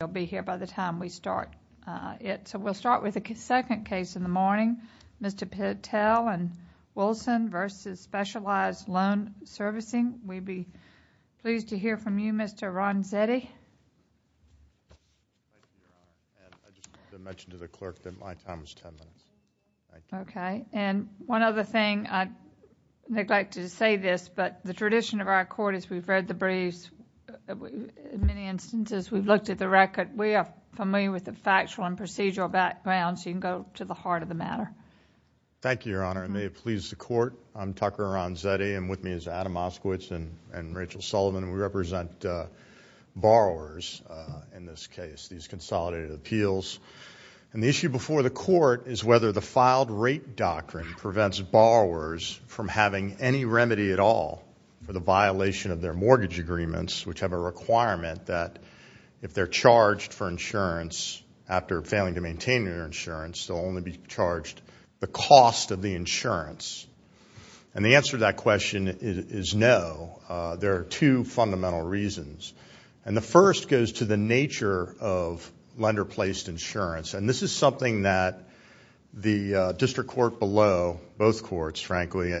They'll be here by the time we start it. So we'll start with the second case in the morning, Mr. Patel v. Wilson v. Specialized Loan Servicing. We'd be pleased to hear from you, Mr. Ronzetti. I just wanted to mention to the clerk that my time was 10 minutes. Thank you. Okay. And one other thing, I'd neglect to say this, but the tradition of our court is we've read the briefs. In many instances, we've looked at the record. We are familiar with the factual and procedural background, so you can go to the heart of the matter. Thank you, Your Honor, and may it please the court, I'm Tucker Ronzetti, and with me is Adam Oskowitz and Rachel Sullivan, and we represent borrowers in this case, these consolidated appeals. And the issue before the court is whether the filed rate doctrine prevents borrowers from having any remedy at all for the violation of their mortgage agreements, which have a requirement that if they're charged for insurance, after failing to maintain their insurance, they'll only be charged the cost of the insurance. And the answer to that question is no. There are two fundamental reasons. And the first goes to the nature of lender-placed insurance, and this is something that the district court below, both courts, frankly,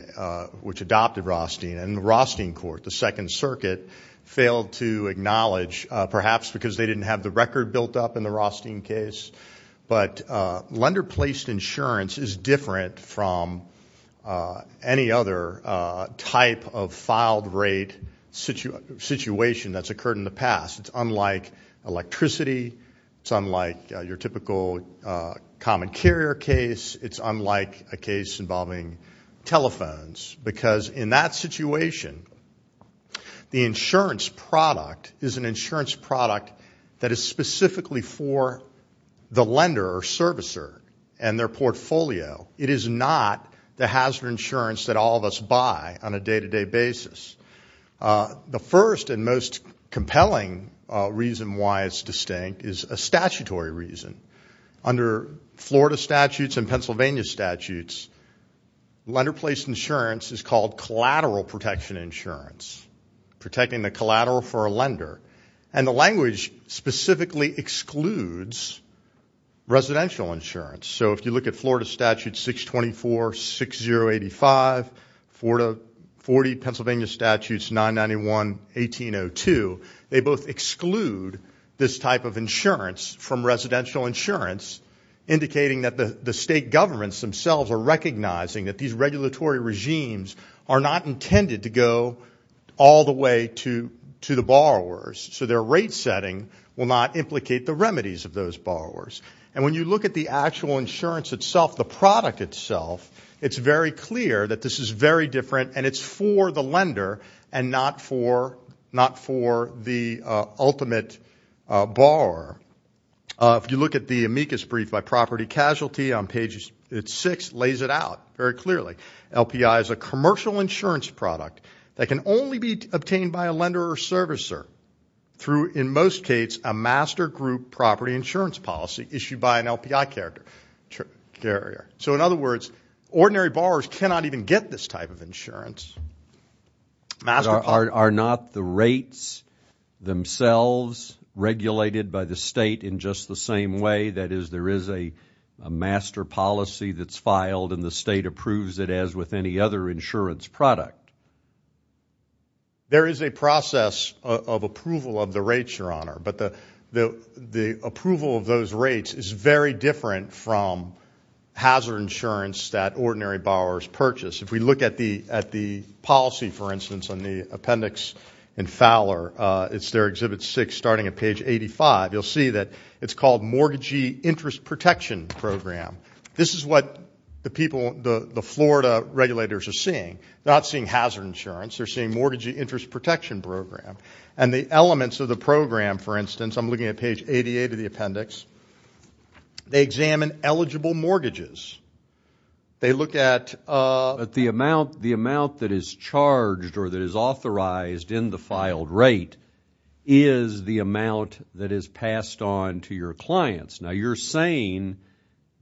which adopted Rothstein and the Rothstein court, the Second Circuit, failed to acknowledge perhaps because they didn't have the record built up in the Rothstein case. But lender-placed insurance is different from any other type of filed rate situation that's occurred in the past. It's unlike electricity. It's unlike your typical common carrier case. It's unlike a case involving telephones, because in that situation, the insurance product is an insurance product that is specifically for the lender or servicer and their portfolio. It is not the hazard insurance that all of us buy on a day-to-day basis. The first and most compelling reason why it's distinct is a statutory reason. Under Florida statutes and Pennsylvania statutes, lender-placed insurance is called collateral protection insurance, protecting the collateral for a lender, and the language specifically excludes residential insurance. So if you look at Florida Statute 624, 6085, Florida, 40, Pennsylvania Statutes 991, 1802, they both exclude this type of insurance from residential insurance, indicating that the state governments themselves are recognizing that these regulatory regimes are not intended to go all the way to the borrowers, so their rate setting will not implicate the remedies of those borrowers. And when you look at the actual insurance itself, the product itself, it's very clear that this is very different, and it's for the lender and not for the ultimate borrower. If you look at the amicus brief by property casualty on page 6, it lays it out very clearly. LPI is a commercial insurance product that can only be obtained by a lender or servicer through, in most cases, a master group property insurance policy issued by an LPI carrier. So in other words, ordinary borrowers cannot even get this type of insurance. Are not the rates themselves regulated by the state in just the same way? That is, there is a master policy that's filed, and the state approves it as with any other insurance product? There is a process of approval of the rates, Your Honor, but the approval of those rates is very different from hazard insurance that ordinary borrowers purchase. If we look at the policy, for instance, on the appendix in Fowler, it's there, Exhibit 6, starting at page 85, you'll see that it's called Mortgagee Interest Protection Program. This is what the people, the Florida regulators are seeing. They're not seeing hazard insurance. They're seeing Mortgagee Interest Protection Program. And the elements of the program, for instance, I'm looking at page 88 of the appendix, they examine eligible mortgages. They look at the amount that is charged or that is authorized in the filed rate is the amount that is passed on to your clients. Now, you're saying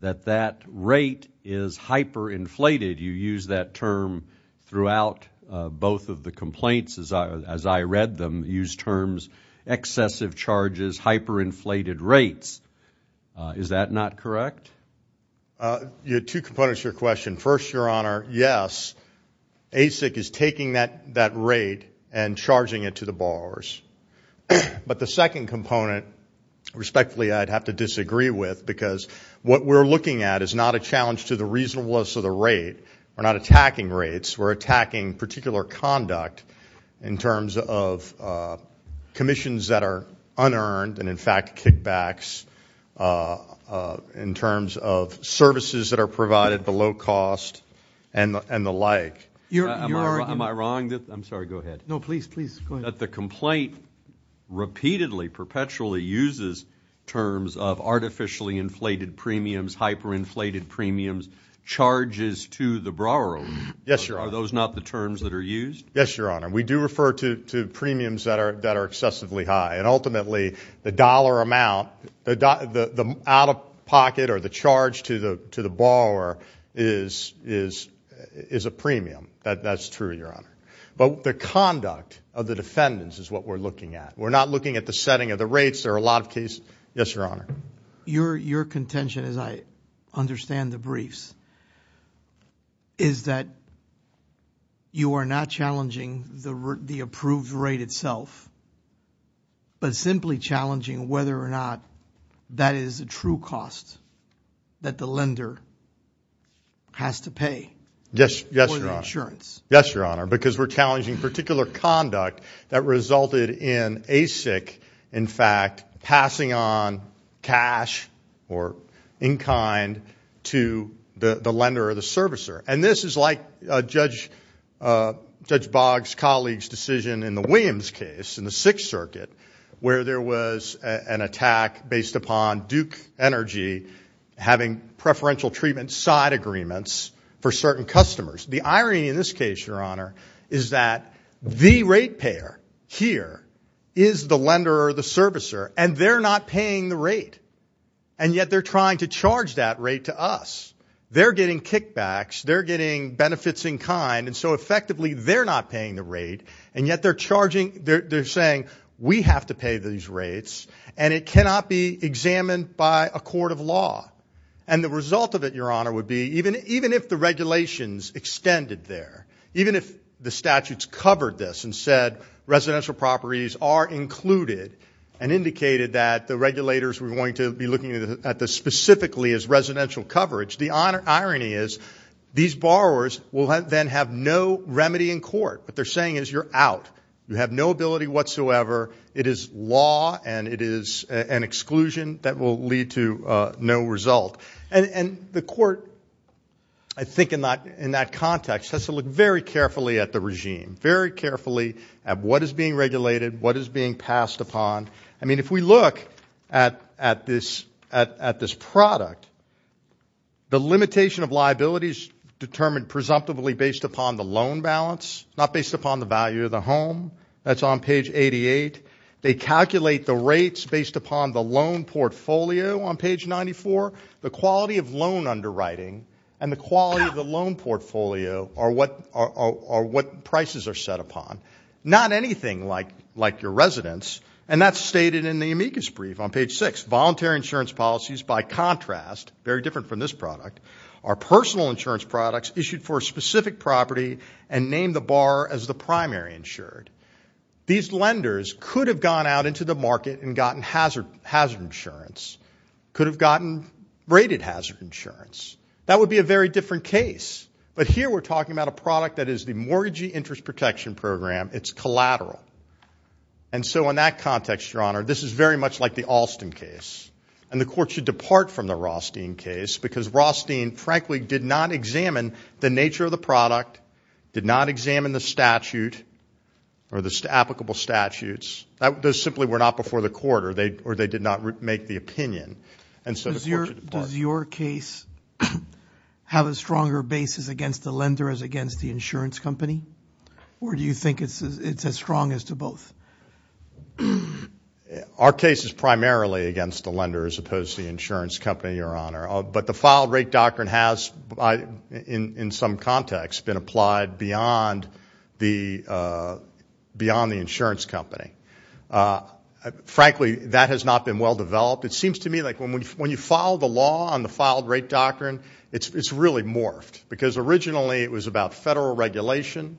that that rate is hyperinflated. You use that term throughout both of the complaints, as I read them, use terms excessive charges, hyperinflated rates. Is that not correct? Two components to your question. First, Your Honor, yes, ASIC is taking that rate and charging it to the borrowers. But the second component, respectfully, I'd have to disagree with, because what we're looking at is not a challenge to the reasonableness of the rate. We're not attacking rates. We're attacking particular conduct in terms of commissions that are unearned and, in fact, kickbacks in terms of services that are provided below cost and the like. Am I wrong? I'm sorry, go ahead. No, please, please, go ahead. You're saying that the complaint repeatedly, perpetually uses terms of artificially inflated premiums, hyperinflated premiums, charges to the borrower. Yes, Your Honor. Are those not the terms that are used? Yes, Your Honor. We do refer to premiums that are excessively high. And ultimately, the dollar amount, the out-of-pocket or the charge to the borrower is a premium. That's true, Your Honor. But the conduct of the defendants is what we're looking at. We're not looking at the setting of the rates. There are a lot of cases. Yes, Your Honor. Your contention, as I understand the briefs, is that you are not challenging the approved rate itself but simply challenging whether or not that is a true cost that the lender has to pay for the insurance. Yes, Your Honor. Because we're challenging particular conduct that resulted in ASIC, in fact, passing on cash or in-kind to the lender or the servicer. And this is like Judge Boggs' colleague's decision in the Williams case in the Sixth Circuit where there was an attack based upon Duke Energy having preferential treatment side agreements for certain customers. The irony in this case, Your Honor, is that the rate payer here is the lender or the servicer, and they're not paying the rate, and yet they're trying to charge that rate to us. They're getting kickbacks. They're getting benefits in kind, and so effectively they're not paying the rate, and yet they're saying, we have to pay these rates, and it cannot be examined by a court of law. And the result of it, Your Honor, would be even if the regulations extended there, even if the statutes covered this and said residential properties are included and indicated that the regulators were going to be looking at this specifically as residential coverage, the irony is these borrowers will then have no remedy in court. What they're saying is you're out. You have no ability whatsoever. It is law, and it is an exclusion that will lead to no result. And the court, I think, in that context has to look very carefully at the regime, very carefully at what is being regulated, what is being passed upon. I mean, if we look at this product, the limitation of liabilities determined presumptively based upon the loan balance, not based upon the value of the home. That's on page 88. They calculate the rates based upon the loan portfolio on page 94. The quality of loan underwriting and the quality of the loan portfolio are what prices are set upon. Not anything like your residence, and that's stated in the amicus brief on page 6. Voluntary insurance policies, by contrast, very different from this product, are personal insurance products issued for a specific property and name the borrower as the primary insured. These lenders could have gone out into the market and gotten hazard insurance, could have gotten rated hazard insurance. That would be a very different case. But here we're talking about a product that is the Mortgagee Interest Protection Program. It's collateral. And so in that context, Your Honor, this is very much like the Alston case, and the court should depart from the Rothstein case because Rothstein, frankly, did not examine the nature of the product, did not examine the statute or the applicable statutes. Those simply were not before the court, or they did not make the opinion. And so the court should depart. Does your case have a stronger basis against the lender as against the insurance company, or do you think it's as strong as to both? Our case is primarily against the lender as opposed to the insurance company, Your Honor. But the filed rate doctrine has, in some context, been applied beyond the insurance company. Frankly, that has not been well developed. It seems to me like when you follow the law on the filed rate doctrine, it's really morphed, because originally it was about federal regulation.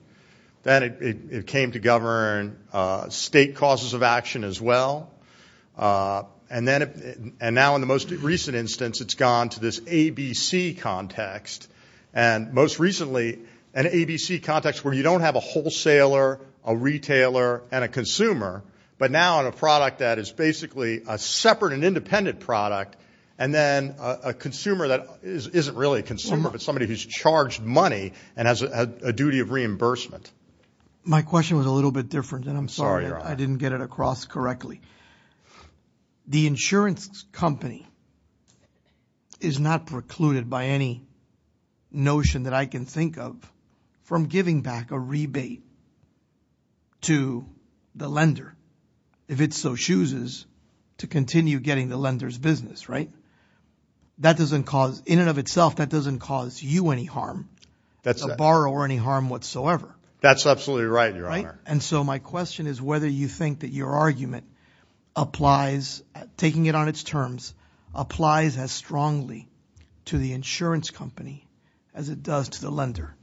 Then it came to govern state causes of action as well. And now in the most recent instance, it's gone to this ABC context. And most recently, an ABC context where you don't have a wholesaler, a retailer, and a consumer, but now in a product that is basically a separate and independent product, and then a consumer that isn't really a consumer but somebody who's charged money and has a duty of reimbursement. My question was a little bit different, and I'm sorry I didn't get it across correctly. The insurance company is not precluded by any notion that I can think of from giving back a rebate to the lender if it so chooses to continue getting the lender's business, right? That doesn't cause, in and of itself, that doesn't cause you any harm, a borrower any harm whatsoever. That's absolutely right, Your Honor. And so my question is whether you think that your argument applies, taking it on its terms, applies as strongly to the insurance company as it does to the lender.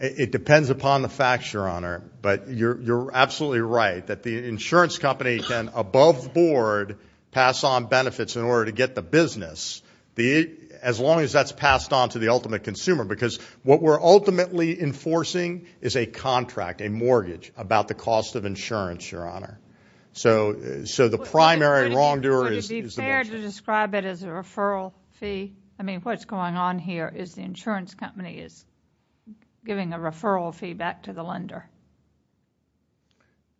It depends upon the facts, Your Honor, but you're absolutely right that the insurance company can, above the board, pass on benefits in order to get the business as long as that's passed on to the ultimate consumer because what we're ultimately enforcing is a contract, a mortgage, about the cost of insurance, Your Honor. So the primary wrongdoer is the mortgage. Would it be fair to describe it as a referral fee? I mean, what's going on here is the insurance company is giving a referral fee back to the lender.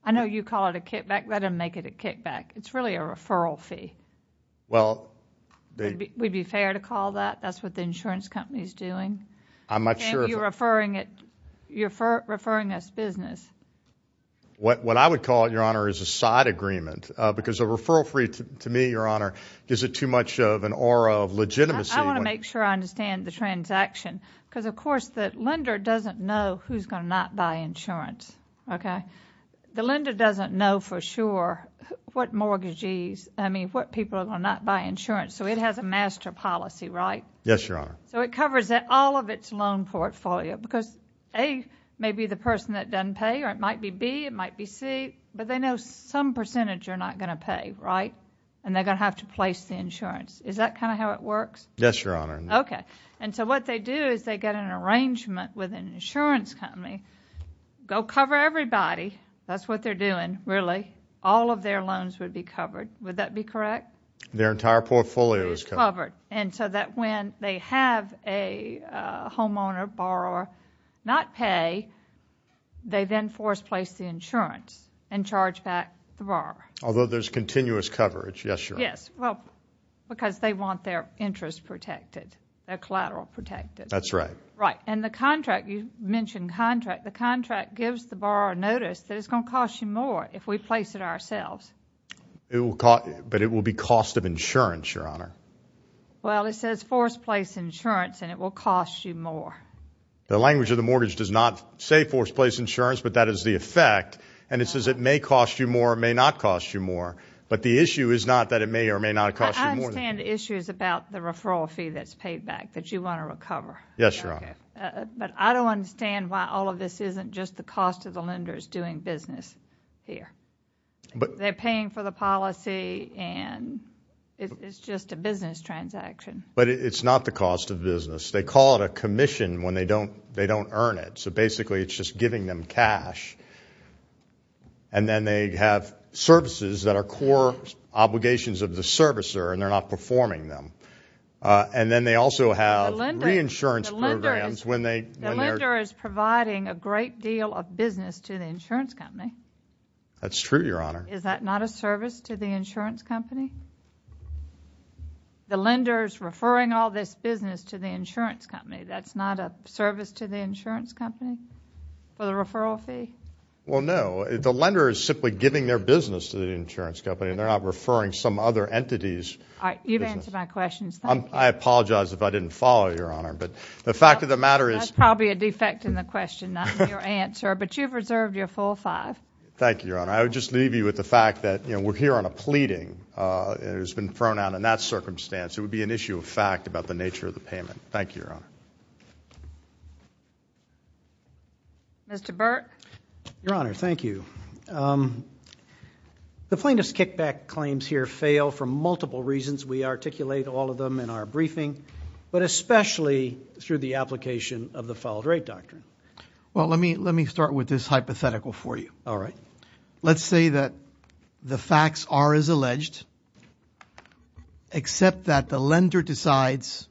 I know you call it a kickback. Let them make it a kickback. It's really a referral fee. Would it be fair to call that? That's what the insurance company is doing? I'm not sure. You're referring us business. What I would call it, Your Honor, is a side agreement because a referral fee, to me, Your Honor, gives it too much of an aura of legitimacy. I want to make sure I understand the transaction because, of course, the lender doesn't know who's going to not buy insurance. Okay? The lender doesn't know for sure what mortgagees, I mean, what people are going to not buy insurance. So it has a master policy, right? Yes, Your Honor. So it covers all of its loan portfolio because, A, maybe the person that doesn't pay, or it might be B, it might be C, but they know some percentage are not going to pay, right? And they're going to have to place the insurance. Is that kind of how it works? Yes, Your Honor. Okay. And so what they do is they get an arrangement with an insurance company. Go cover everybody. That's what they're doing, really. All of their loans would be covered. Would that be correct? Their entire portfolio is covered. And so that when they have a homeowner, borrower, not pay, they then force place the insurance and charge back the borrower. Although there's continuous coverage. Yes, Your Honor. Yes. Well, because they want their interest protected, their collateral protected. That's right. Right. And the contract, you mentioned contract. The contract gives the borrower notice that it's going to cost you more if we place it ourselves. But it will be cost of insurance, Your Honor. Well, it says force place insurance, and it will cost you more. The language of the mortgage does not say force place insurance, but that is the effect. And it says it may cost you more, may not cost you more. But the issue is not that it may or may not cost you more. I understand the issues about the referral fee that's paid back that you want to recover. Yes, Your Honor. But I don't understand why all of this isn't just the cost of the lenders doing business here. They're paying for the policy, and it's just a business transaction. But it's not the cost of business. They call it a commission when they don't earn it. So basically it's just giving them cash. And then they have services that are core obligations of the servicer, and they're not performing them. And then they also have reinsurance programs when they're – The lender is providing a great deal of business to the insurance company. That's true, Your Honor. Is that not a service to the insurance company? The lender is referring all this business to the insurance company. That's not a service to the insurance company for the referral fee? Well, no. The lender is simply giving their business to the insurance company, and they're not referring some other entity's business. All right. You've answered my questions. Thank you. I apologize if I didn't follow, Your Honor. But the fact of the matter is – That's probably a defect in the question, not in your answer. But you've reserved your full five. Thank you, Your Honor. I would just leave you with the fact that we're here on a pleading, and it has been thrown out in that circumstance. It would be an issue of fact about the nature of the payment. Thank you, Your Honor. Mr. Burke? Your Honor, thank you. The plaintiff's kickback claims here fail for multiple reasons. We articulate all of them in our briefing, but especially through the application of the filed rate doctrine. All right. Let's say that the facts are as alleged, except that the lender decides,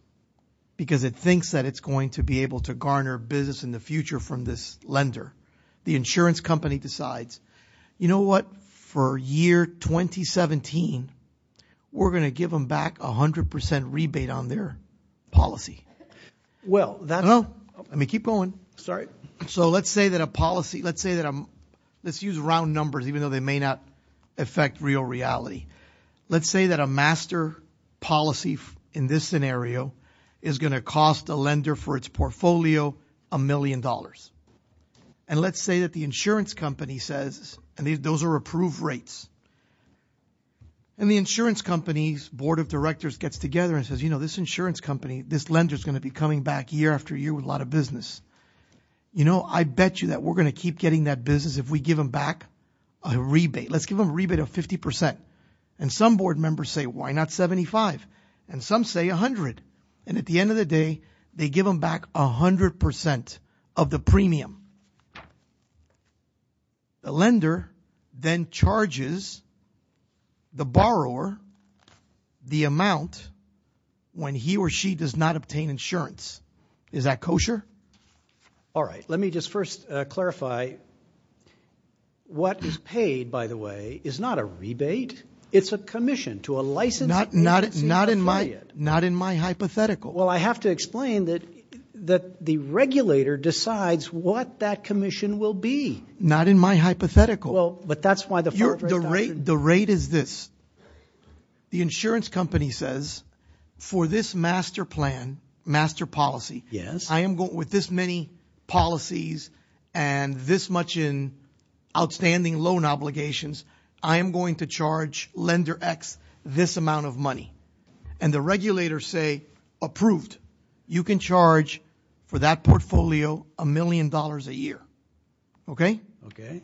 because it thinks that it's going to be able to garner business in the future from this lender. The insurance company decides, you know what, for year 2017, we're going to give them back 100% rebate on their policy. Well, that's – No. I mean, keep going. Sorry. All right. So let's say that a policy – let's say that – let's use round numbers, even though they may not affect real reality. Let's say that a master policy in this scenario is going to cost a lender for its portfolio a million dollars. And let's say that the insurance company says – and those are approved rates. And the insurance company's board of directors gets together and says, you know, this insurance company, this lender's going to be coming back year after year with a lot of business. You know, I bet you that we're going to keep getting that business if we give them back a rebate. Let's give them a rebate of 50%. And some board members say, why not 75%? And some say 100%. And at the end of the day, they give them back 100% of the premium. The lender then charges the borrower the amount when he or she does not obtain insurance. Is that kosher? All right. Let me just first clarify. What is paid, by the way, is not a rebate. It's a commission to a licensed agency affiliate. Not in my hypothetical. Well, I have to explain that the regulator decides what that commission will be. Not in my hypothetical. Well, but that's why the – The rate is this. The insurance company says, for this master plan, master policy, with this many policies and this much in outstanding loan obligations, I am going to charge lender X this amount of money. And the regulators say, approved. You can charge for that portfolio a million dollars a year. Okay? Okay.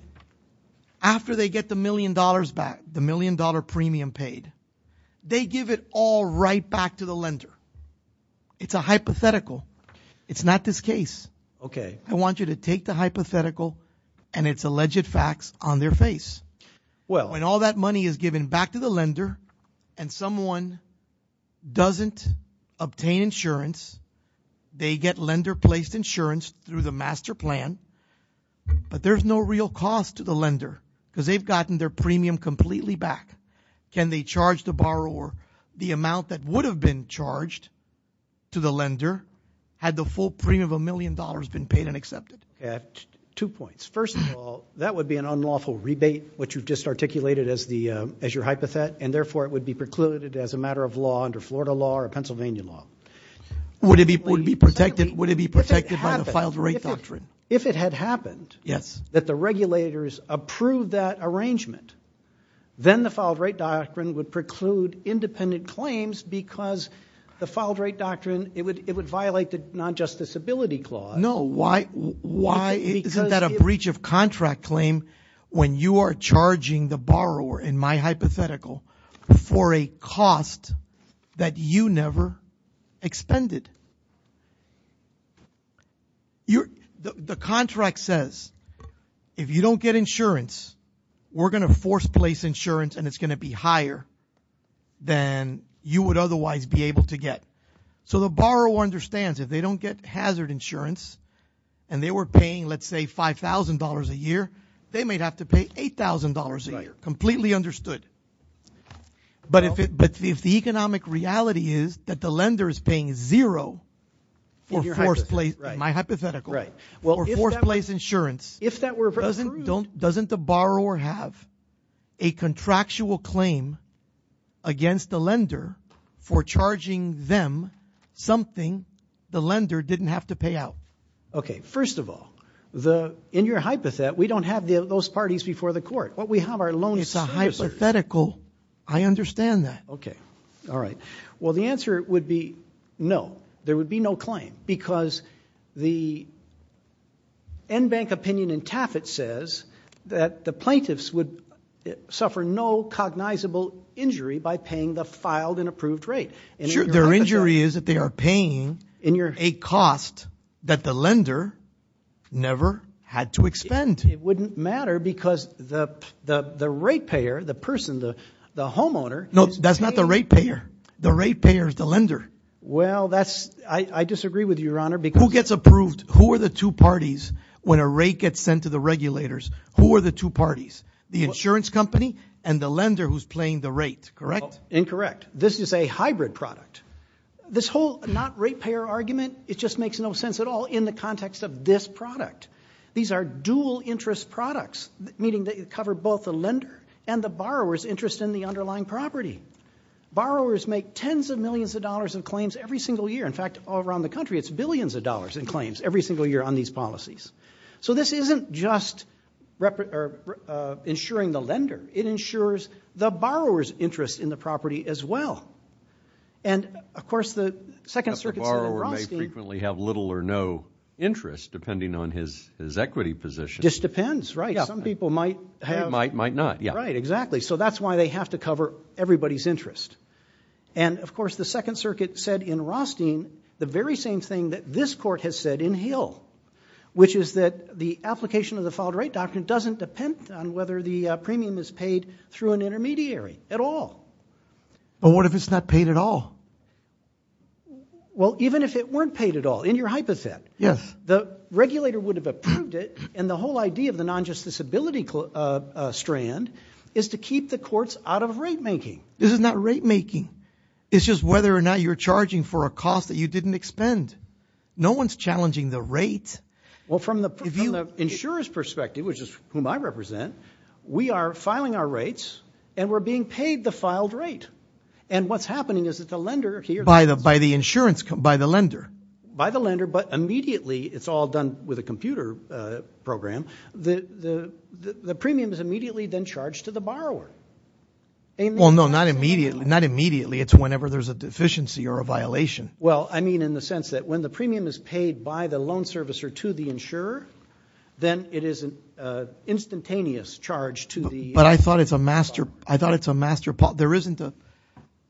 After they get the million dollars back, the million-dollar premium paid, they give it all right back to the lender. It's a hypothetical. It's not this case. Okay. I want you to take the hypothetical and its alleged facts on their face. When all that money is given back to the lender and someone doesn't obtain insurance, they get lender-placed insurance through the master plan, but there's no real cost to the lender because they've gotten their premium completely back. Can they charge the borrower the amount that would have been charged to the lender had the full premium of a million dollars been paid and accepted? Two points. First of all, that would be an unlawful rebate, which you've just articulated as your hypothet, and therefore it would be precluded as a matter of law under Florida law or Pennsylvania law. Would it be protected by the filed rate doctrine? If it had happened that the regulators approved that arrangement, then the filed rate doctrine would preclude independent claims because the filed rate doctrine, it would violate the non-justice ability clause. No. Why isn't that a breach of contract claim when you are charging the borrower, in my hypothetical, for a cost that you never expended? The contract says if you don't get insurance, we're going to force-place insurance, and it's going to be higher than you would otherwise be able to get. So the borrower understands if they don't get hazard insurance and they were paying, let's say, $5,000 a year, they might have to pay $8,000 a year. Completely understood. But if the economic reality is that the lender is paying zero for force-place, in my hypothetical, for force-place insurance, doesn't the borrower have a contractual claim against the lender for charging them something the lender didn't have to pay out? Okay. First of all, in your hypothet, we don't have those parties before the court. What we have are loan insurers. It's a hypothetical. I understand that. Okay. All right. Well, the answer would be no. There would be no claim because the NBank opinion in TAFIT says that the plaintiffs would suffer no cognizable injury by paying the filed and approved rate. Their injury is that they are paying a cost that the lender never had to expend. It wouldn't matter because the rate payer, the person, the homeowner is paying. No, that's not the rate payer. The rate payer is the lender. Well, I disagree with you, Your Honor. Who gets approved? Who are the two parties when a rate gets sent to the regulators? Who are the two parties? The insurance company and the lender who's paying the rate, correct? Incorrect. This is a hybrid product. This whole not-rate-payer argument, it just makes no sense at all in the context of this product. These are dual-interest products, meaning they cover both the lender and the borrower's interest in the underlying property. Borrowers make tens of millions of dollars in claims every single year. In fact, all around the country, it's billions of dollars in claims every single year on these policies. So this isn't just insuring the lender. It insures the borrower's interest in the property as well. And, of course, the Second Circuit said in Brodsky— This depends, right. Some people might have— Might, might not, yeah. Right, exactly. So that's why they have to cover everybody's interest. And, of course, the Second Circuit said in Rothstein the very same thing that this court has said in Hill, which is that the application of the filed-rate doctrine doesn't depend on whether the premium is paid through an intermediary at all. But what if it's not paid at all? Well, even if it weren't paid at all, in your hypothet, the regulator would have approved it, and the whole idea of the non-justice ability strand is to keep the courts out of rate-making. This is not rate-making. It's just whether or not you're charging for a cost that you didn't expend. No one's challenging the rate. Well, from the insurer's perspective, which is whom I represent, we are filing our rates, and we're being paid the filed rate. And what's happening is that the lender— By the insurance—by the lender. By the lender, but immediately it's all done with a computer program. The premium is immediately then charged to the borrower. Well, no, not immediately. It's whenever there's a deficiency or a violation. Well, I mean in the sense that when the premium is paid by the loan servicer to the insurer, then it is an instantaneous charge to the— But I thought it's a master—I thought it's a master—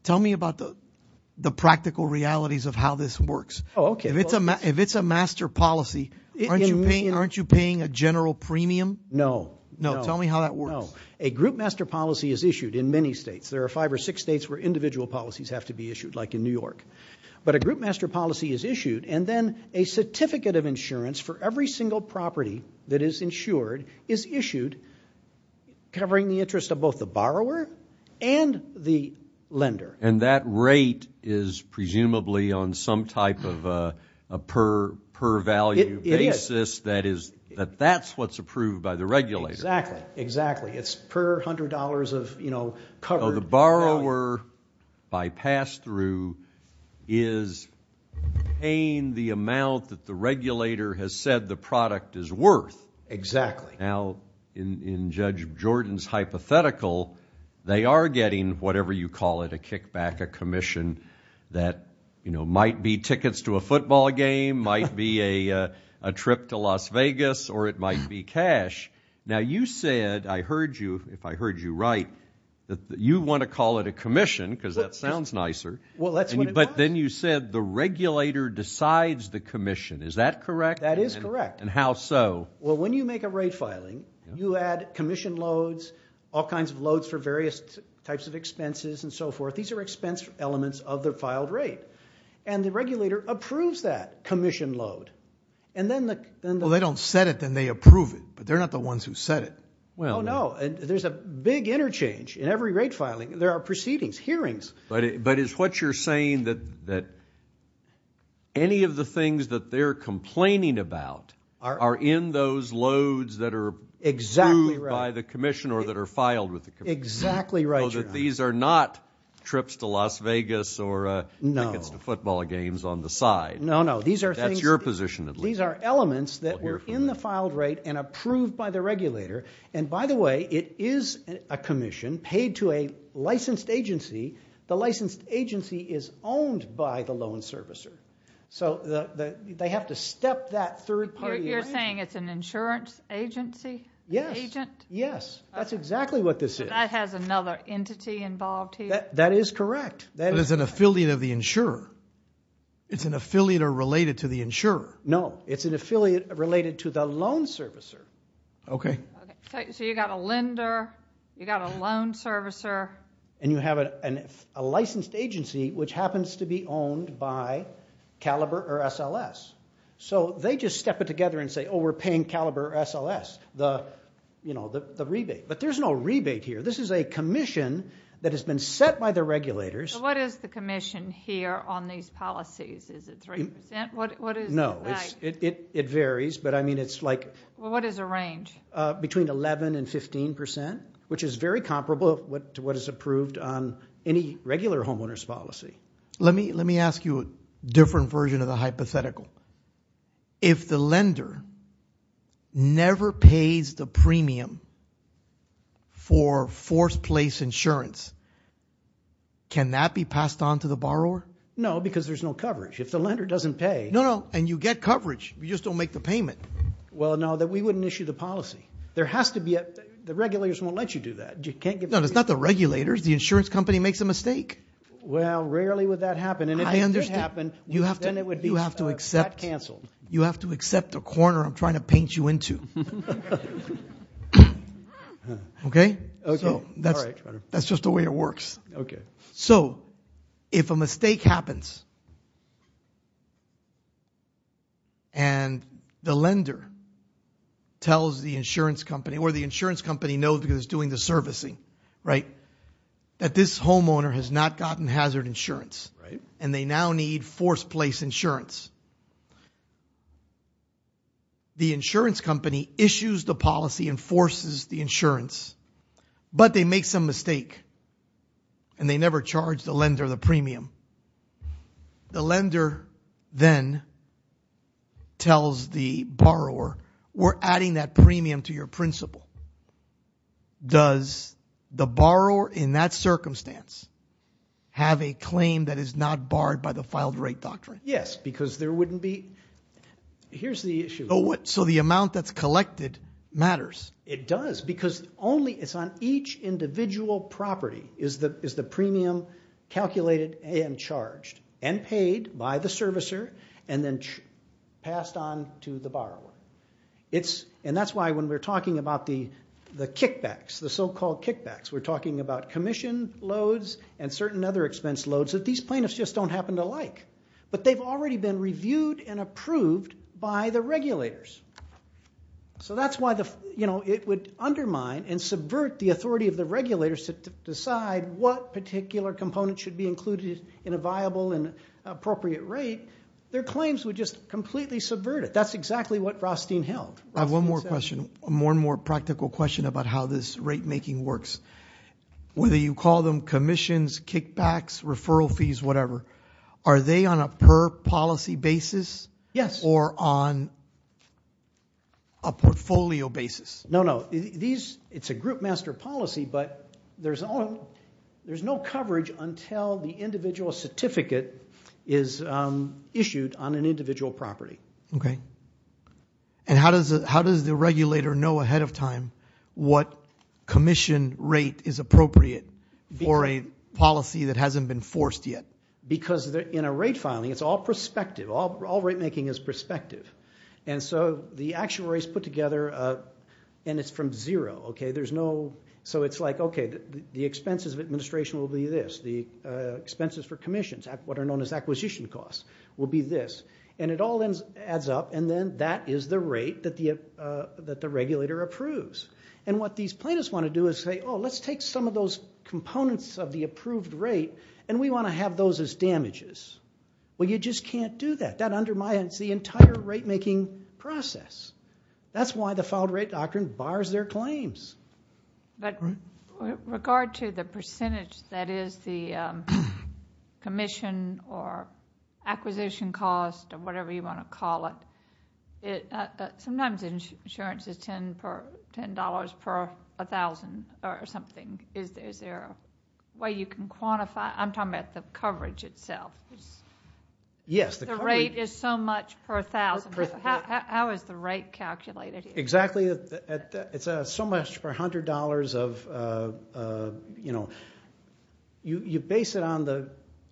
Tell me about the practical realities of how this works. Oh, okay. If it's a master policy, aren't you paying a general premium? No. No, tell me how that works. No. A group master policy is issued in many states. There are five or six states where individual policies have to be issued, like in New York. But a group master policy is issued, and then a certificate of insurance for every single property that is insured is issued covering the interest of both the borrower and the lender. And that rate is presumably on some type of a per-value basis. It is. That is—that's what's approved by the regulator. Exactly. Exactly. It's per $100 of, you know, covered value. So the borrower, by pass-through, is paying the amount that the regulator has said the product is worth. Exactly. Now, in Judge Jordan's hypothetical, they are getting whatever you call it, a kickback, a commission, that, you know, might be tickets to a football game, might be a trip to Las Vegas, or it might be cash. Now, you said, I heard you, if I heard you right, that you want to call it a commission, because that sounds nicer. Well, that's what it was. But then you said the regulator decides the commission. Is that correct? That is correct. And how so? Well, when you make a rate filing, you add commission loads, all kinds of loads for various types of expenses and so forth. These are expense elements of the filed rate. And the regulator approves that commission load. Well, they don't set it, then they approve it. But they're not the ones who set it. Oh, no. There's a big interchange in every rate filing. There are proceedings, hearings. But is what you're saying that any of the things that they're complaining about are in those loads that are approved by the commission or that are filed with the commission? Exactly right, Your Honor. So that these are not trips to Las Vegas or tickets to football games on the side? No, no. That's your position, at least. These are elements that were in the filed rate and approved by the regulator. And, by the way, it is a commission paid to a licensed agency. The licensed agency is owned by the loan servicer. So they have to step that third party right? You're saying it's an insurance agency? Yes. An agent? Yes. That's exactly what this is. But that has another entity involved here? That is correct. But it's an affiliate of the insurer. It's an affiliate or related to the insurer. No. It's an affiliate related to the loan servicer. Okay. So you've got a lender, you've got a loan servicer. And you have a licensed agency which happens to be owned by Caliber or SLS. So they just step it together and say, Oh, we're paying Caliber or SLS the rebate. But there's no rebate here. This is a commission that has been set by the regulators. So what is the commission here on these policies? Is it 3%? No, it varies. What is the range? Between 11% and 15%, which is very comparable to what is approved on any regular homeowner's policy. Let me ask you a different version of the hypothetical. If the lender never pays the premium for forced place insurance, can that be passed on to the borrower? No, because there's no coverage. If the lender doesn't pay. No, no. And you get coverage. You just don't make the payment. Well, no, we wouldn't issue the policy. The regulators won't let you do that. No, it's not the regulators. The insurance company makes a mistake. Well, rarely would that happen. And if it did happen, then it would be that canceled. You have to accept the corner I'm trying to paint you into. Okay? That's just the way it works. Okay. So if a mistake happens and the lender tells the insurance company or the insurance company knows who's doing the servicing, right, that this homeowner has not gotten hazard insurance and they now need forced place insurance, the insurance company issues the policy and forces the insurance, but they make some mistake and they never charge the lender the premium, the lender then tells the borrower, we're adding that premium to your principle. Does the borrower in that circumstance have a claim that is not barred by the filed rate doctrine? Yes, because there wouldn't be here's the issue. So the amount that's collected matters. It does because only it's on each individual property is the premium calculated and charged and paid by the servicer and then passed on to the borrower. And that's why when we're talking about the kickbacks, the so-called kickbacks, we're talking about commission loads and certain other expense loads that these plaintiffs just don't happen to like. But they've already been reviewed and approved by the regulators. So that's why it would undermine and subvert the authority of the regulators to decide what particular component should be included in a viable and appropriate rate. Their claims would just completely subvert it. That's exactly what Rothstein held. I have one more question, a more and more practical question about how this rate making works. Whether you call them commissions, kickbacks, referral fees, whatever, are they on a per policy basis? Yes. Or on a portfolio basis? No, no. It's a group master policy, but there's no coverage until the individual certificate is issued on an individual property. Okay. And how does the regulator know ahead of time what commission rate is appropriate for a policy that hasn't been forced yet? Because in a rate filing, it's all prospective. All rate making is prospective. And so the actuary is put together, and it's from zero. So it's like, okay, the expenses of administration will be this. The expenses for commissions, what are known as acquisition costs, will be this. And it all adds up, and then that is the rate that the regulator approves. And what these plaintiffs want to do is say, oh, let's take some of those components of the approved rate, and we want to have those as damages. Well, you just can't do that. That undermines the entire rate making process. That's why the filed rate doctrine bars their claims. But with regard to the percentage that is the commission or acquisition cost or whatever you want to call it, sometimes insurance is $10 per 1,000 or something. Is there a way you can quantify it? I'm talking about the coverage itself. Yes. The rate is so much per 1,000. How is the rate calculated? Exactly. It's so much per $100 of, you know. You base it on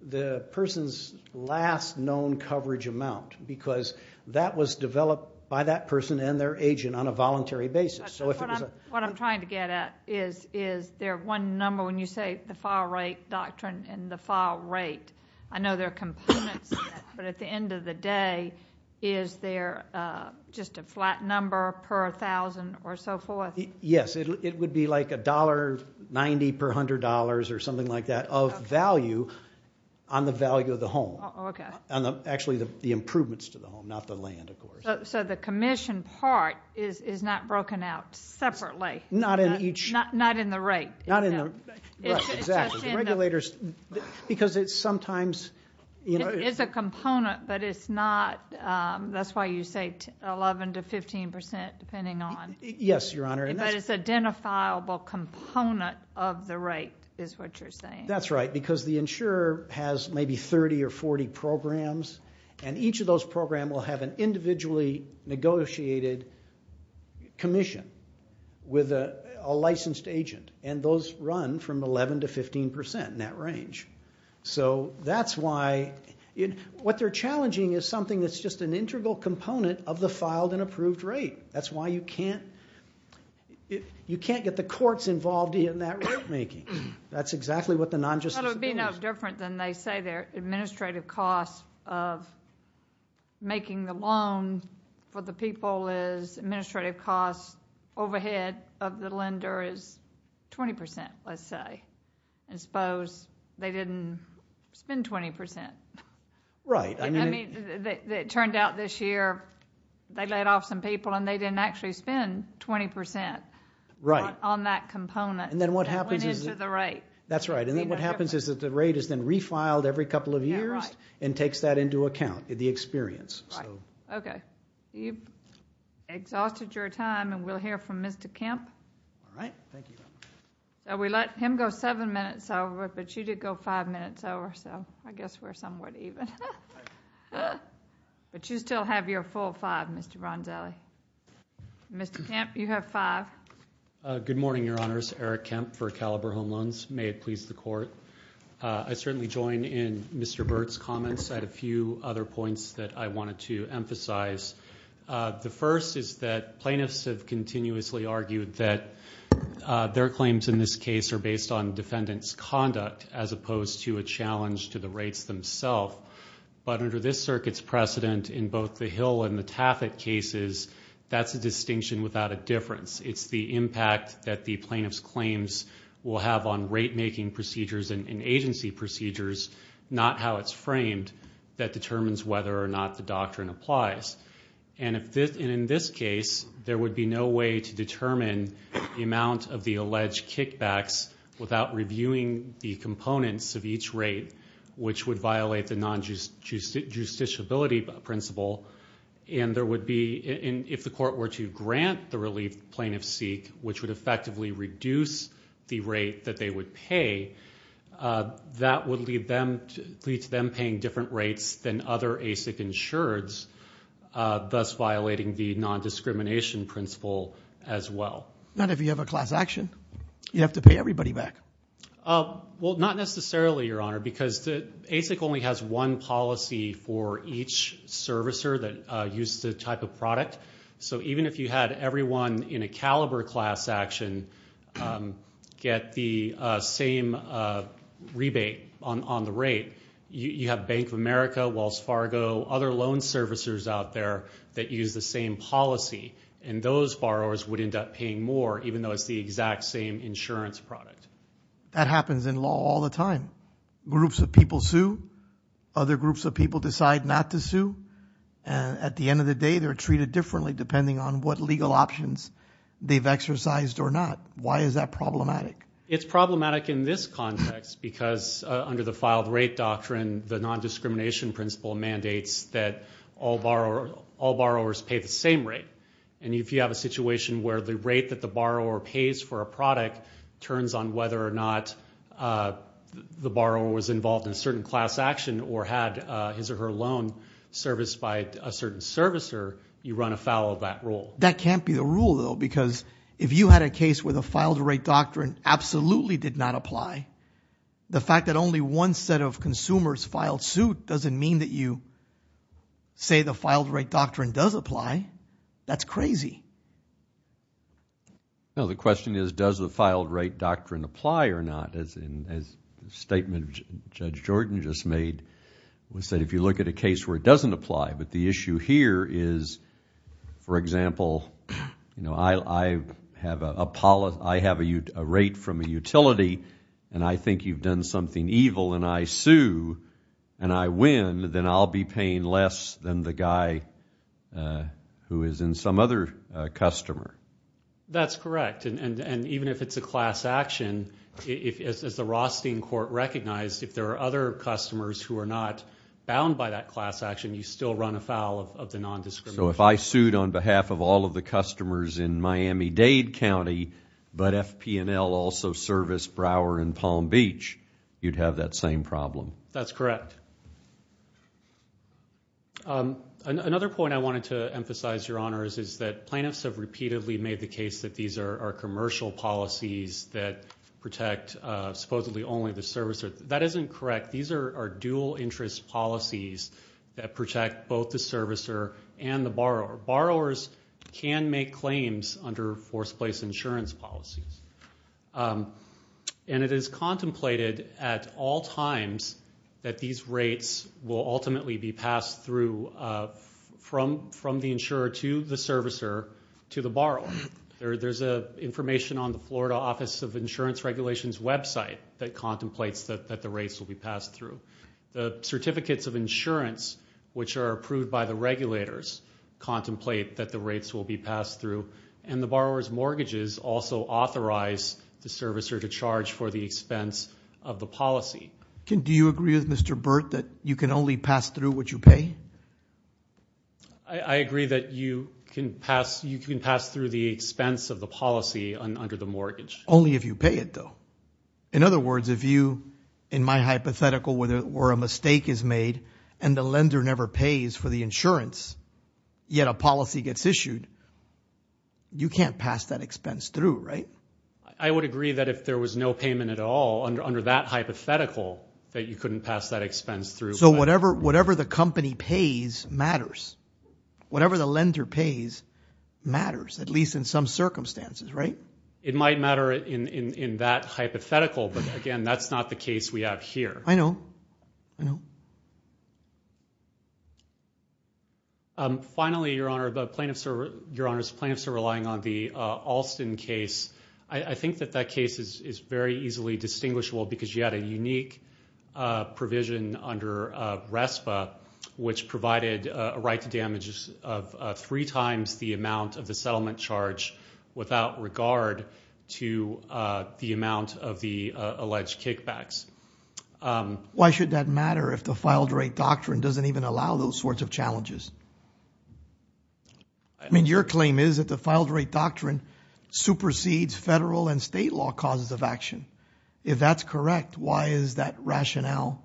the person's last known coverage amount, because that was developed by that person and their agent on a voluntary basis. What I'm trying to get at is their one number, when you say the file rate doctrine and the file rate, I know there are components to that, but at the end of the day, is there just a flat number per 1,000 or so forth? Yes. It would be like $1.90 per $100 or something like that of value on the value of the home. Okay. Actually, the improvements to the home, not the land, of course. So the commission part is not broken out separately. Not in each. Not in the rate. Exactly. The regulators, because it's sometimes, you know. It's a component, but it's not. That's why you say 11% to 15%, depending on. Yes, Your Honor. But it's an identifiable component of the rate is what you're saying. That's right, because the insurer has maybe 30 or 40 programs, and each of those programs will have an individually negotiated commission with a licensed agent. And those run from 11% to 15% in that range. So that's why. What they're challenging is something that's just an integral component of the filed and approved rate. That's why you can't get the courts involved in that rate making. That's exactly what the non-justice. Well, it would be no different than they say there. Administrative costs of making the loan for the people is administrative costs overhead of the lender is 20%, let's say. I suppose they didn't spend 20%. Right. I mean, it turned out this year they let off some people, and they didn't actually spend 20%. Right. On that component. And then what happens is. That went into the rate. That's right. And then what happens is that the rate is then refiled every couple of years. Yeah, right. And takes that into account, the experience. Right. Okay. You've exhausted your time, and we'll hear from Mr. Kemp. All right. Thank you. We let him go seven minutes over, but you did go five minutes over, so I guess we're somewhat even. But you still have your full five, Mr. Ronzelli. Mr. Kemp, you have five. Good morning, Your Honors. Eric Kemp for Caliber Home Loans. May it please the Court. I certainly join in Mr. Burt's comments. I had a few other points that I wanted to emphasize. The first is that plaintiffs have continuously argued that their claims in this case are based on defendant's conduct, as opposed to a challenge to the rates themselves. But under this circuit's precedent in both the Hill and the Taffet cases, that's a distinction without a difference. It's the impact that the plaintiff's claims will have on rate-making procedures and agency procedures, not how it's framed, that determines whether or not the doctrine applies. And in this case, there would be no way to determine the amount of the alleged kickbacks without reviewing the components of each rate, which would violate the non-justiciability principle. And if the Court were to grant the relief plaintiffs seek, which would effectively reduce the rate that they would pay, that would lead to them paying different rates than other ASIC insureds, thus violating the non-discrimination principle as well. Not if you have a class action. You'd have to pay everybody back. Well, not necessarily, Your Honor, because ASIC only has one policy for each servicer that uses the type of product. So even if you had everyone in a caliber class action get the same rebate on the rate, you have Bank of America, Wells Fargo, other loan servicers out there that use the same policy, and those borrowers would end up paying more, even though it's the exact same insurance product. That happens in law all the time. Groups of people sue. Other groups of people decide not to sue. At the end of the day, they're treated differently depending on what legal options they've exercised or not. Why is that problematic? It's problematic in this context because under the filed rate doctrine, the non-discrimination principle mandates that all borrowers pay the same rate. And if you have a situation where the rate that the borrower pays for a product turns on whether or not the borrower was involved in a certain class action or had his or her loan serviced by a certain servicer, you run afoul of that rule. That can't be the rule, though, because if you had a case where the filed rate doctrine absolutely did not apply, the fact that only one set of consumers filed suit doesn't mean that you say the filed rate doctrine does apply. That's crazy. No, the question is, does the filed rate doctrine apply or not? The statement Judge Jordan just made was that if you look at a case where it doesn't apply, but the issue here is, for example, I have a rate from a utility and I think you've done something evil and I sue and I win, then I'll be paying less than the guy who is in some other customer. That's correct. Even if it's a class action, as the Rothstein Court recognized, if there are other customers who are not bound by that class action, you still run afoul of the non-discrimination law. If I sued on behalf of all of the customers in Miami-Dade County, but FP&L also serviced Brower and Palm Beach, you'd have that same problem. That's correct. Another point I wanted to emphasize, Your Honors, is that plaintiffs have repeatedly made the case that these are commercial policies that protect supposedly only the servicer. That isn't correct. These are dual interest policies that protect both the servicer and the borrower. Borrowers can make claims under forced place insurance policies. And it is contemplated at all times that these rates will ultimately be to the borrower. There's information on the Florida Office of Insurance Regulations website that contemplates that the rates will be passed through. The certificates of insurance, which are approved by the regulators, contemplate that the rates will be passed through. And the borrower's mortgages also authorize the servicer to charge for the expense of the policy. Do you agree with Mr. Burt that you can only pass through what you pay? I agree that you can pass through the expense of the policy under the mortgage. Only if you pay it, though. In other words, if you, in my hypothetical, where a mistake is made and the lender never pays for the insurance, yet a policy gets issued, you can't pass that expense through, right? I would agree that if there was no payment at all under that hypothetical, that you couldn't pass that expense through. So whatever the company pays matters. Whatever the lender pays matters, at least in some circumstances, right? It might matter in that hypothetical, but, again, that's not the case we have here. I know. I know. Finally, Your Honor, the plaintiffs are relying on the Alston case. I think that that case is very easily distinguishable because you had a which provided a right to damages of three times the amount of the settlement charge without regard to the amount of the alleged kickbacks. Why should that matter if the filed rate doctrine doesn't even allow those sorts of challenges? I mean, your claim is that the filed rate doctrine supersedes federal and state law causes of action. If that's correct, why is that rationale?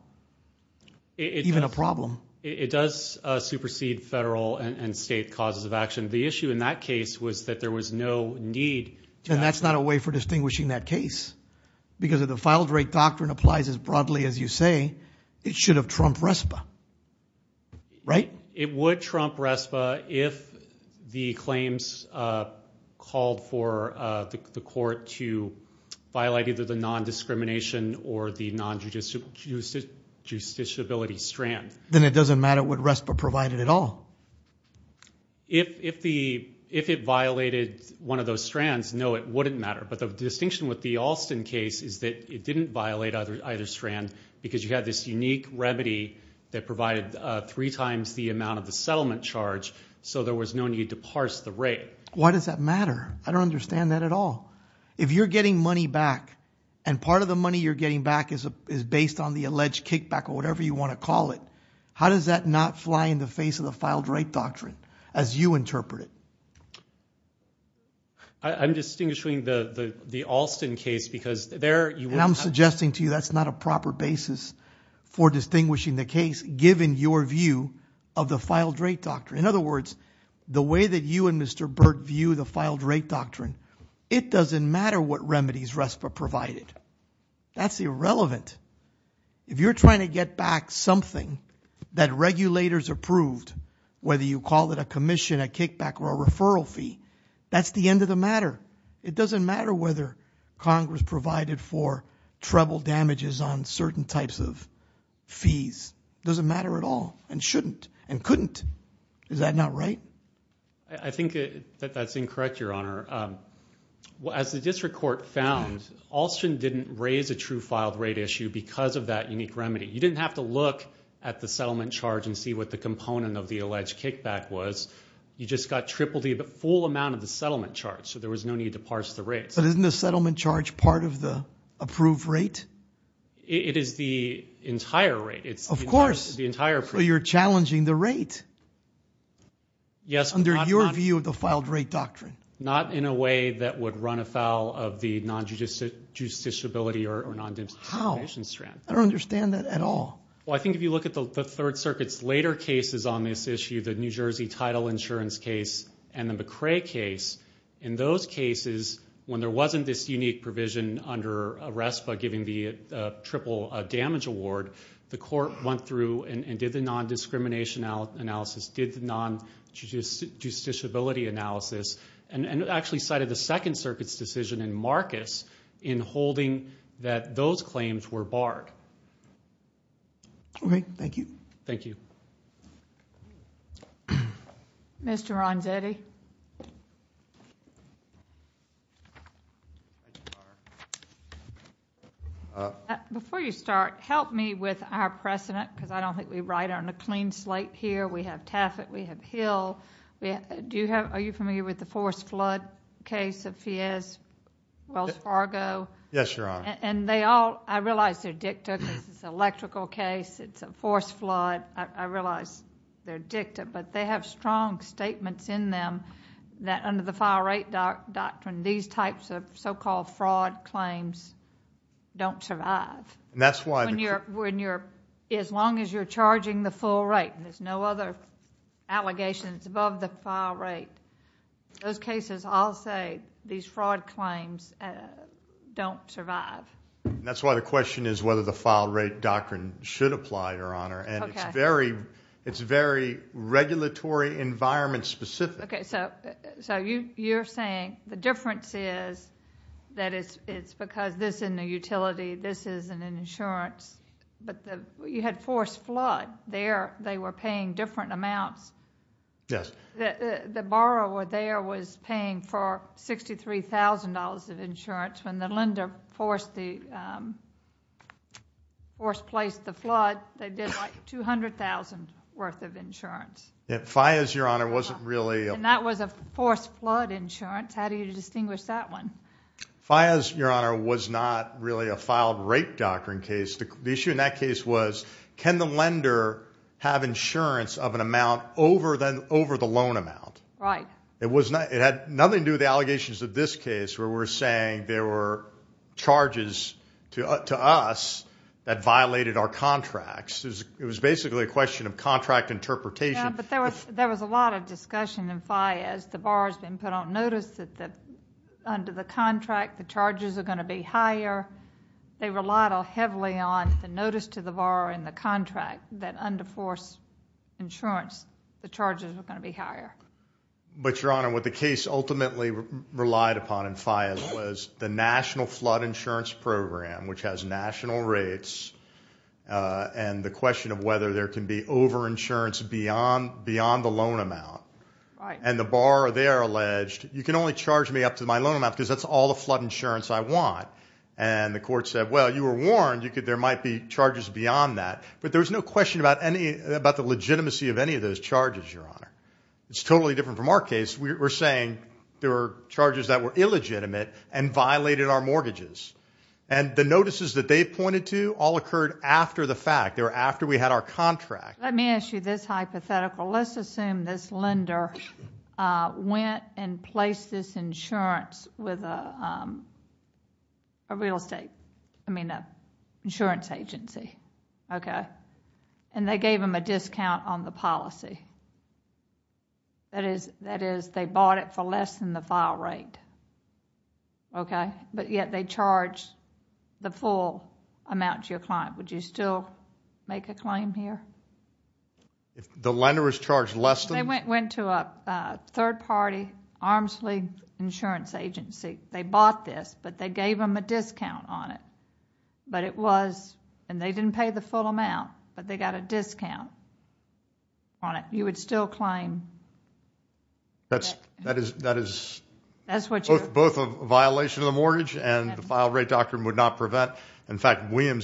Even a problem. It does supersede federal and state causes of action. The issue in that case was that there was no need. And that's not a way for distinguishing that case. Because if the filed rate doctrine applies as broadly as you say, it should have trumped RESPA. Right? It would trump RESPA if the claims called for the court to violate either the Justiciability strand. Then it doesn't matter what RESPA provided at all. If it violated one of those strands, no, it wouldn't matter. But the distinction with the Alston case is that it didn't violate either strand because you had this unique remedy that provided three times the amount of the settlement charge. So there was no need to parse the rate. Why does that matter? I don't understand that at all. If you're getting money back and part of the money you're getting back is based on the alleged kickback or whatever you want to call it, how does that not fly in the face of the filed rate doctrine as you interpret it? I'm distinguishing the Alston case because there you would not. And I'm suggesting to you that's not a proper basis for distinguishing the case given your view of the filed rate doctrine. In other words, the way that you and Mr. Burt view the filed rate doctrine, it doesn't matter what remedies RESPA provided. That's irrelevant. If you're trying to get back something that regulators approved, whether you call it a commission, a kickback, or a referral fee, that's the end of the matter. It doesn't matter whether Congress provided for treble damages on certain types of fees. It doesn't matter at all and shouldn't and couldn't. Is that not right? I think that that's incorrect, Your Honor. As the district court found, Alston didn't raise a true filed rate issue because of that unique remedy. You didn't have to look at the settlement charge and see what the component of the alleged kickback was. You just got triple the full amount of the settlement charge. So there was no need to parse the rates. But isn't the settlement charge part of the approved rate? It is the entire rate. Of course. You're challenging the rate. Yes. But that's under your view of the filed rate doctrine. Not in a way that would run afoul of the non-judiciability or non-discrimination strand. How? I don't understand that at all. I think if you look at the Third Circuit's later cases on this issue, the New Jersey title insurance case and the McCrae case, in those cases when there wasn't this unique provision under RESPA giving the triple damage award, the court went through and did the non-discrimination analysis, did the non-judiciability analysis, and actually cited the Second Circuit's decision in Marcus in holding that those claims were barred. Okay. Thank you. Thank you. Mr. Ronzetti. Before you start, help me with our precedent because I don't think we write on a clean slate here. We have Tafet, we have Hill. Are you familiar with the forced flood case of Fiez, Wells Fargo? Yes, Your Honor. I realize they're dicta because it's an electrical case, it's a forced flood. I realize they're dicta, but they have strong statements in them that under the file rate doctrine, these types of so-called fraud claims don't survive. That's why... As long as you're charging the full rate. There's no other allegations above the file rate. Those cases all say these fraud claims don't survive. That's why the question is whether the file rate doctrine should apply, Your Honor. Okay. It's very regulatory environment specific. Okay. You're saying the difference is that it's because this isn't a utility, this isn't an insurance, but you had forced flood. There they were paying different amounts. Yes. The borrower there was paying for $63,000 of insurance. When the lender forced placed the flood, they did like $200,000 worth of insurance. Fiez, Your Honor, wasn't really... That was a forced flood insurance. How do you distinguish that one? Fiez, Your Honor, was not really a filed rate doctrine case. The issue in that case was, can the lender have insurance of an amount over the loan amount? Right. It had nothing to do with the allegations of this case where we're saying there were charges to us that violated our contracts. It was basically a question of contract interpretation. Yeah, but there was a lot of discussion in Fiez. The borrower's been put on notice that under the contract, the charges are going to be higher. However, they relied heavily on the notice to the borrower in the contract that under forced insurance, the charges are going to be higher. But, Your Honor, what the case ultimately relied upon in Fiez was the National Flood Insurance Program, which has national rates, and the question of whether there can be over-insurance beyond the loan amount. Right. And the borrower there alleged, you can only charge me up to my loan amount because that's all the flood insurance I want. And the court said, well, you were warned there might be charges beyond that. But there was no question about the legitimacy of any of those charges, Your Honor. It's totally different from our case. We're saying there were charges that were illegitimate and violated our mortgages. And the notices that they pointed to all occurred after the fact. They were after we had our contract. Let me ask you this hypothetical. Let's assume this lender went and placed this insurance with a real estate, I mean an insurance agency, okay, and they gave them a discount on the policy. That is, they bought it for less than the file rate, okay, but yet they charged the full amount to your client. Would you still make a claim here? The lender was charged less than? They went to a third-party, arm's-length insurance agency. They bought this, but they gave them a discount on it. But it was, and they didn't pay the full amount, but they got a discount on it. You would still claim? That is both a violation of the mortgage and the file rate doctrine would not prevent. They were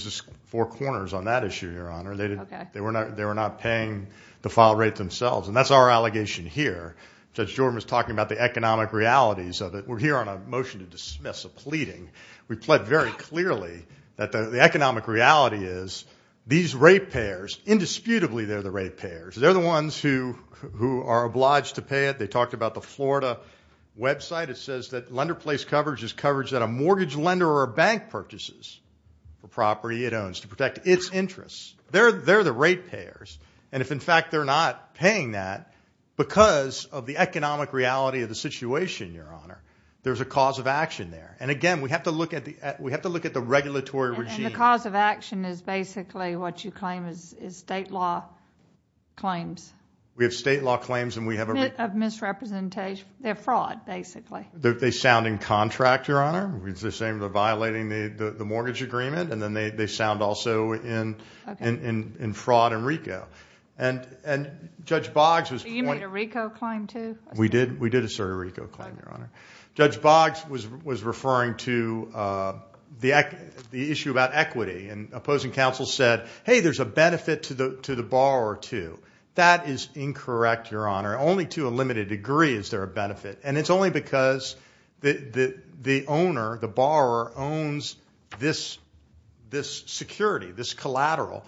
not paying the file rate themselves, and that's our allegation here. Judge Jordan was talking about the economic realities of it. We're here on a motion to dismiss a pleading. We pled very clearly that the economic reality is these rate payers, indisputably they're the rate payers. They're the ones who are obliged to pay it. They talked about the Florida website. It says that lender place coverage is coverage that a mortgage lender or a bank purchases the property it owns to protect its interests. They're the rate payers. And if, in fact, they're not paying that because of the economic reality of the situation, Your Honor, there's a cause of action there. And, again, we have to look at the regulatory regime. And the cause of action is basically what you claim is state law claims. We have state law claims and we have a— Of misrepresentation. They're fraud, basically. They sound in contract, Your Honor. It's the same as violating the mortgage agreement. And then they sound also in fraud and RICO. And Judge Boggs was— You made a RICO claim too? We did assert a RICO claim, Your Honor. Judge Boggs was referring to the issue about equity. And opposing counsel said, hey, there's a benefit to the borrower too. That is incorrect, Your Honor. Only to a limited degree is there a benefit. And it's only because the owner, the borrower, owns this security, this collateral.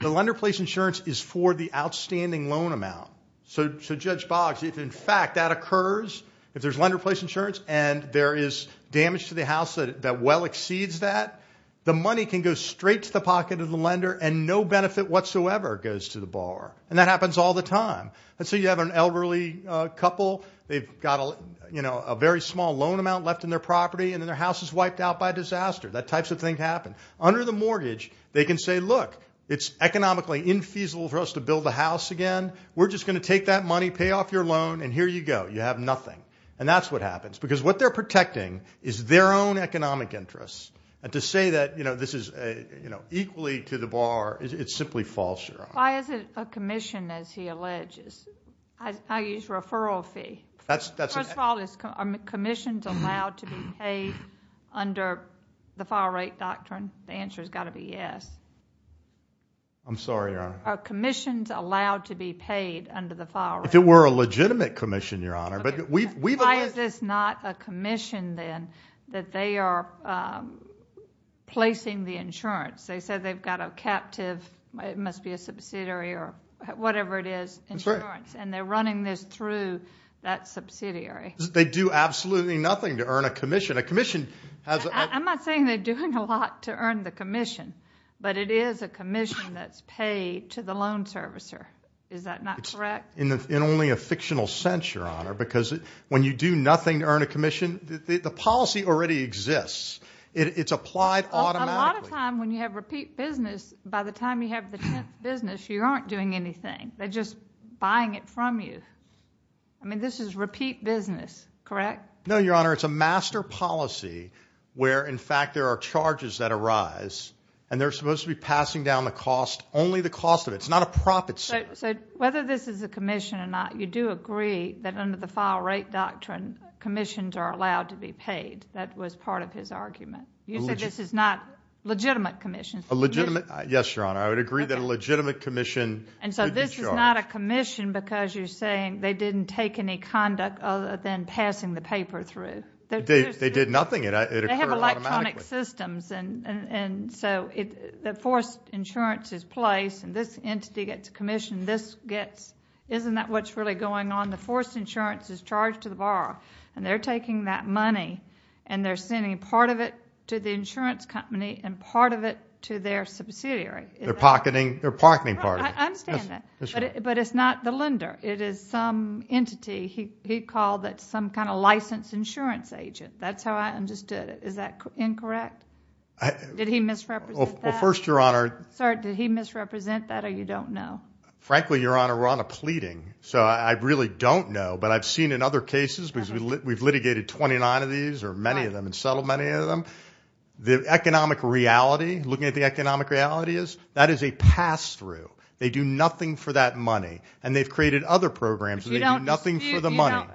The lender place insurance is for the outstanding loan amount. So Judge Boggs, if, in fact, that occurs, if there's lender place insurance and there is damage to the house that well exceeds that, the money can go straight to the pocket of the lender and no benefit whatsoever goes to the borrower. And that happens all the time. Let's say you have an elderly couple. They've got a very small loan amount left in their property, and then their house is wiped out by disaster. That types of things happen. Under the mortgage, they can say, look, it's economically infeasible for us to build a house again. We're just going to take that money, pay off your loan, and here you go. You have nothing. And that's what happens. Because what they're protecting is their own economic interests. And to say that this is equally to the borrower, it's simply false, Your Honor. Why is it a commission, as he alleges? I use referral fee. First of all, are commissions allowed to be paid under the file rate doctrine? The answer has got to be yes. I'm sorry, Your Honor. Are commissions allowed to be paid under the file rate? If it were a legitimate commission, Your Honor. Why is this not a commission, then, that they are placing the insurance? They said they've got a captive, it must be a subsidiary or whatever it is, insurance, and they're running this through that subsidiary. They do absolutely nothing to earn a commission. I'm not saying they're doing a lot to earn the commission, but it is a commission that's paid to the loan servicer. Is that not correct? In only a fictional sense, Your Honor, because when you do nothing to earn a commission, the policy already exists. It's applied automatically. A lot of time when you have repeat business, by the time you have the 10th business, you aren't doing anything. They're just buying it from you. I mean, this is repeat business, correct? No, Your Honor. It's a master policy where, in fact, there are charges that arise, and they're supposed to be passing down the cost, only the cost of it. It's not a profit center. So whether this is a commission or not, you do agree that under the file rate doctrine commissions are allowed to be paid. That was part of his argument. You said this is not a legitimate commission. Yes, Your Honor. I would agree that a legitimate commission would be charged. So this is not a commission because you're saying they didn't take any conduct other than passing the paper through. They did nothing. It occurred automatically. They have electronic systems, and so the forced insurance is placed, and this entity gets a commission. Isn't that what's really going on? The forced insurance is charged to the borrower, and they're taking that money, and they're sending part of it to the insurance company and part of it to their subsidiary. They're pocketing part of it. I understand that, but it's not the lender. It is some entity. He called it some kind of licensed insurance agent. That's how I understood it. Is that incorrect? Did he misrepresent that? Well, first, Your Honor. Sir, did he misrepresent that, or you don't know? Frankly, Your Honor, we're on a pleading, so I really don't know. But I've seen in other cases, because we've litigated 29 of these or many of them and settled many of them, the economic reality, looking at the economic reality, that is a pass-through. They do nothing for that money, and they've created other programs, and they do nothing for the money.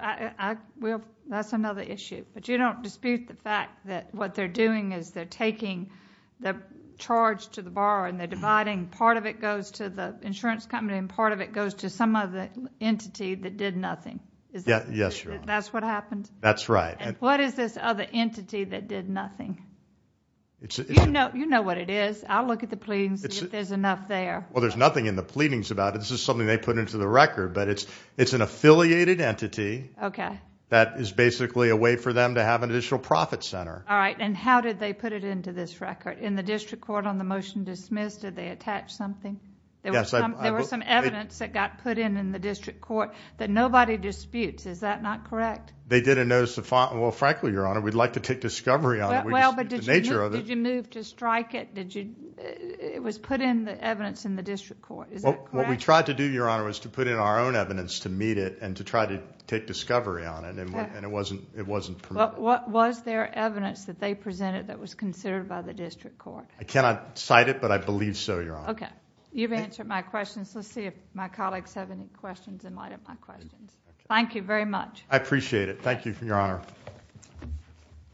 That's another issue. But you don't dispute the fact that what they're doing is they're taking the charge to the borrower, and they're dividing. Part of it goes to the insurance company, and part of it goes to some other entity that did nothing. Yes, Your Honor. That's what happened? That's right. What is this other entity that did nothing? You know what it is. I'll look at the pleadings and see if there's enough there. Well, there's nothing in the pleadings about it. This is something they put into the record. But it's an affiliated entity that is basically a way for them to have an additional profit center. All right, and how did they put it into this record? In the district court on the motion dismissed, did they attach something? Yes. There was some evidence that got put in in the district court that nobody disputes. Is that not correct? They didn't notice the font. Well, frankly, Your Honor, we'd like to take discovery on it. Well, but did you move to strike it? It was put in the evidence in the district court. Is that correct? What we tried to do, Your Honor, was to put in our own evidence to meet it and to try to take discovery on it, and it wasn't permitted. Well, what was their evidence that they presented that was considered by the district court? I cannot cite it, but I believe so, Your Honor. Okay. You've answered my questions. Let's see if my colleagues have any questions in light of my questions. Thank you very much. I appreciate it. Thank you, Your Honor.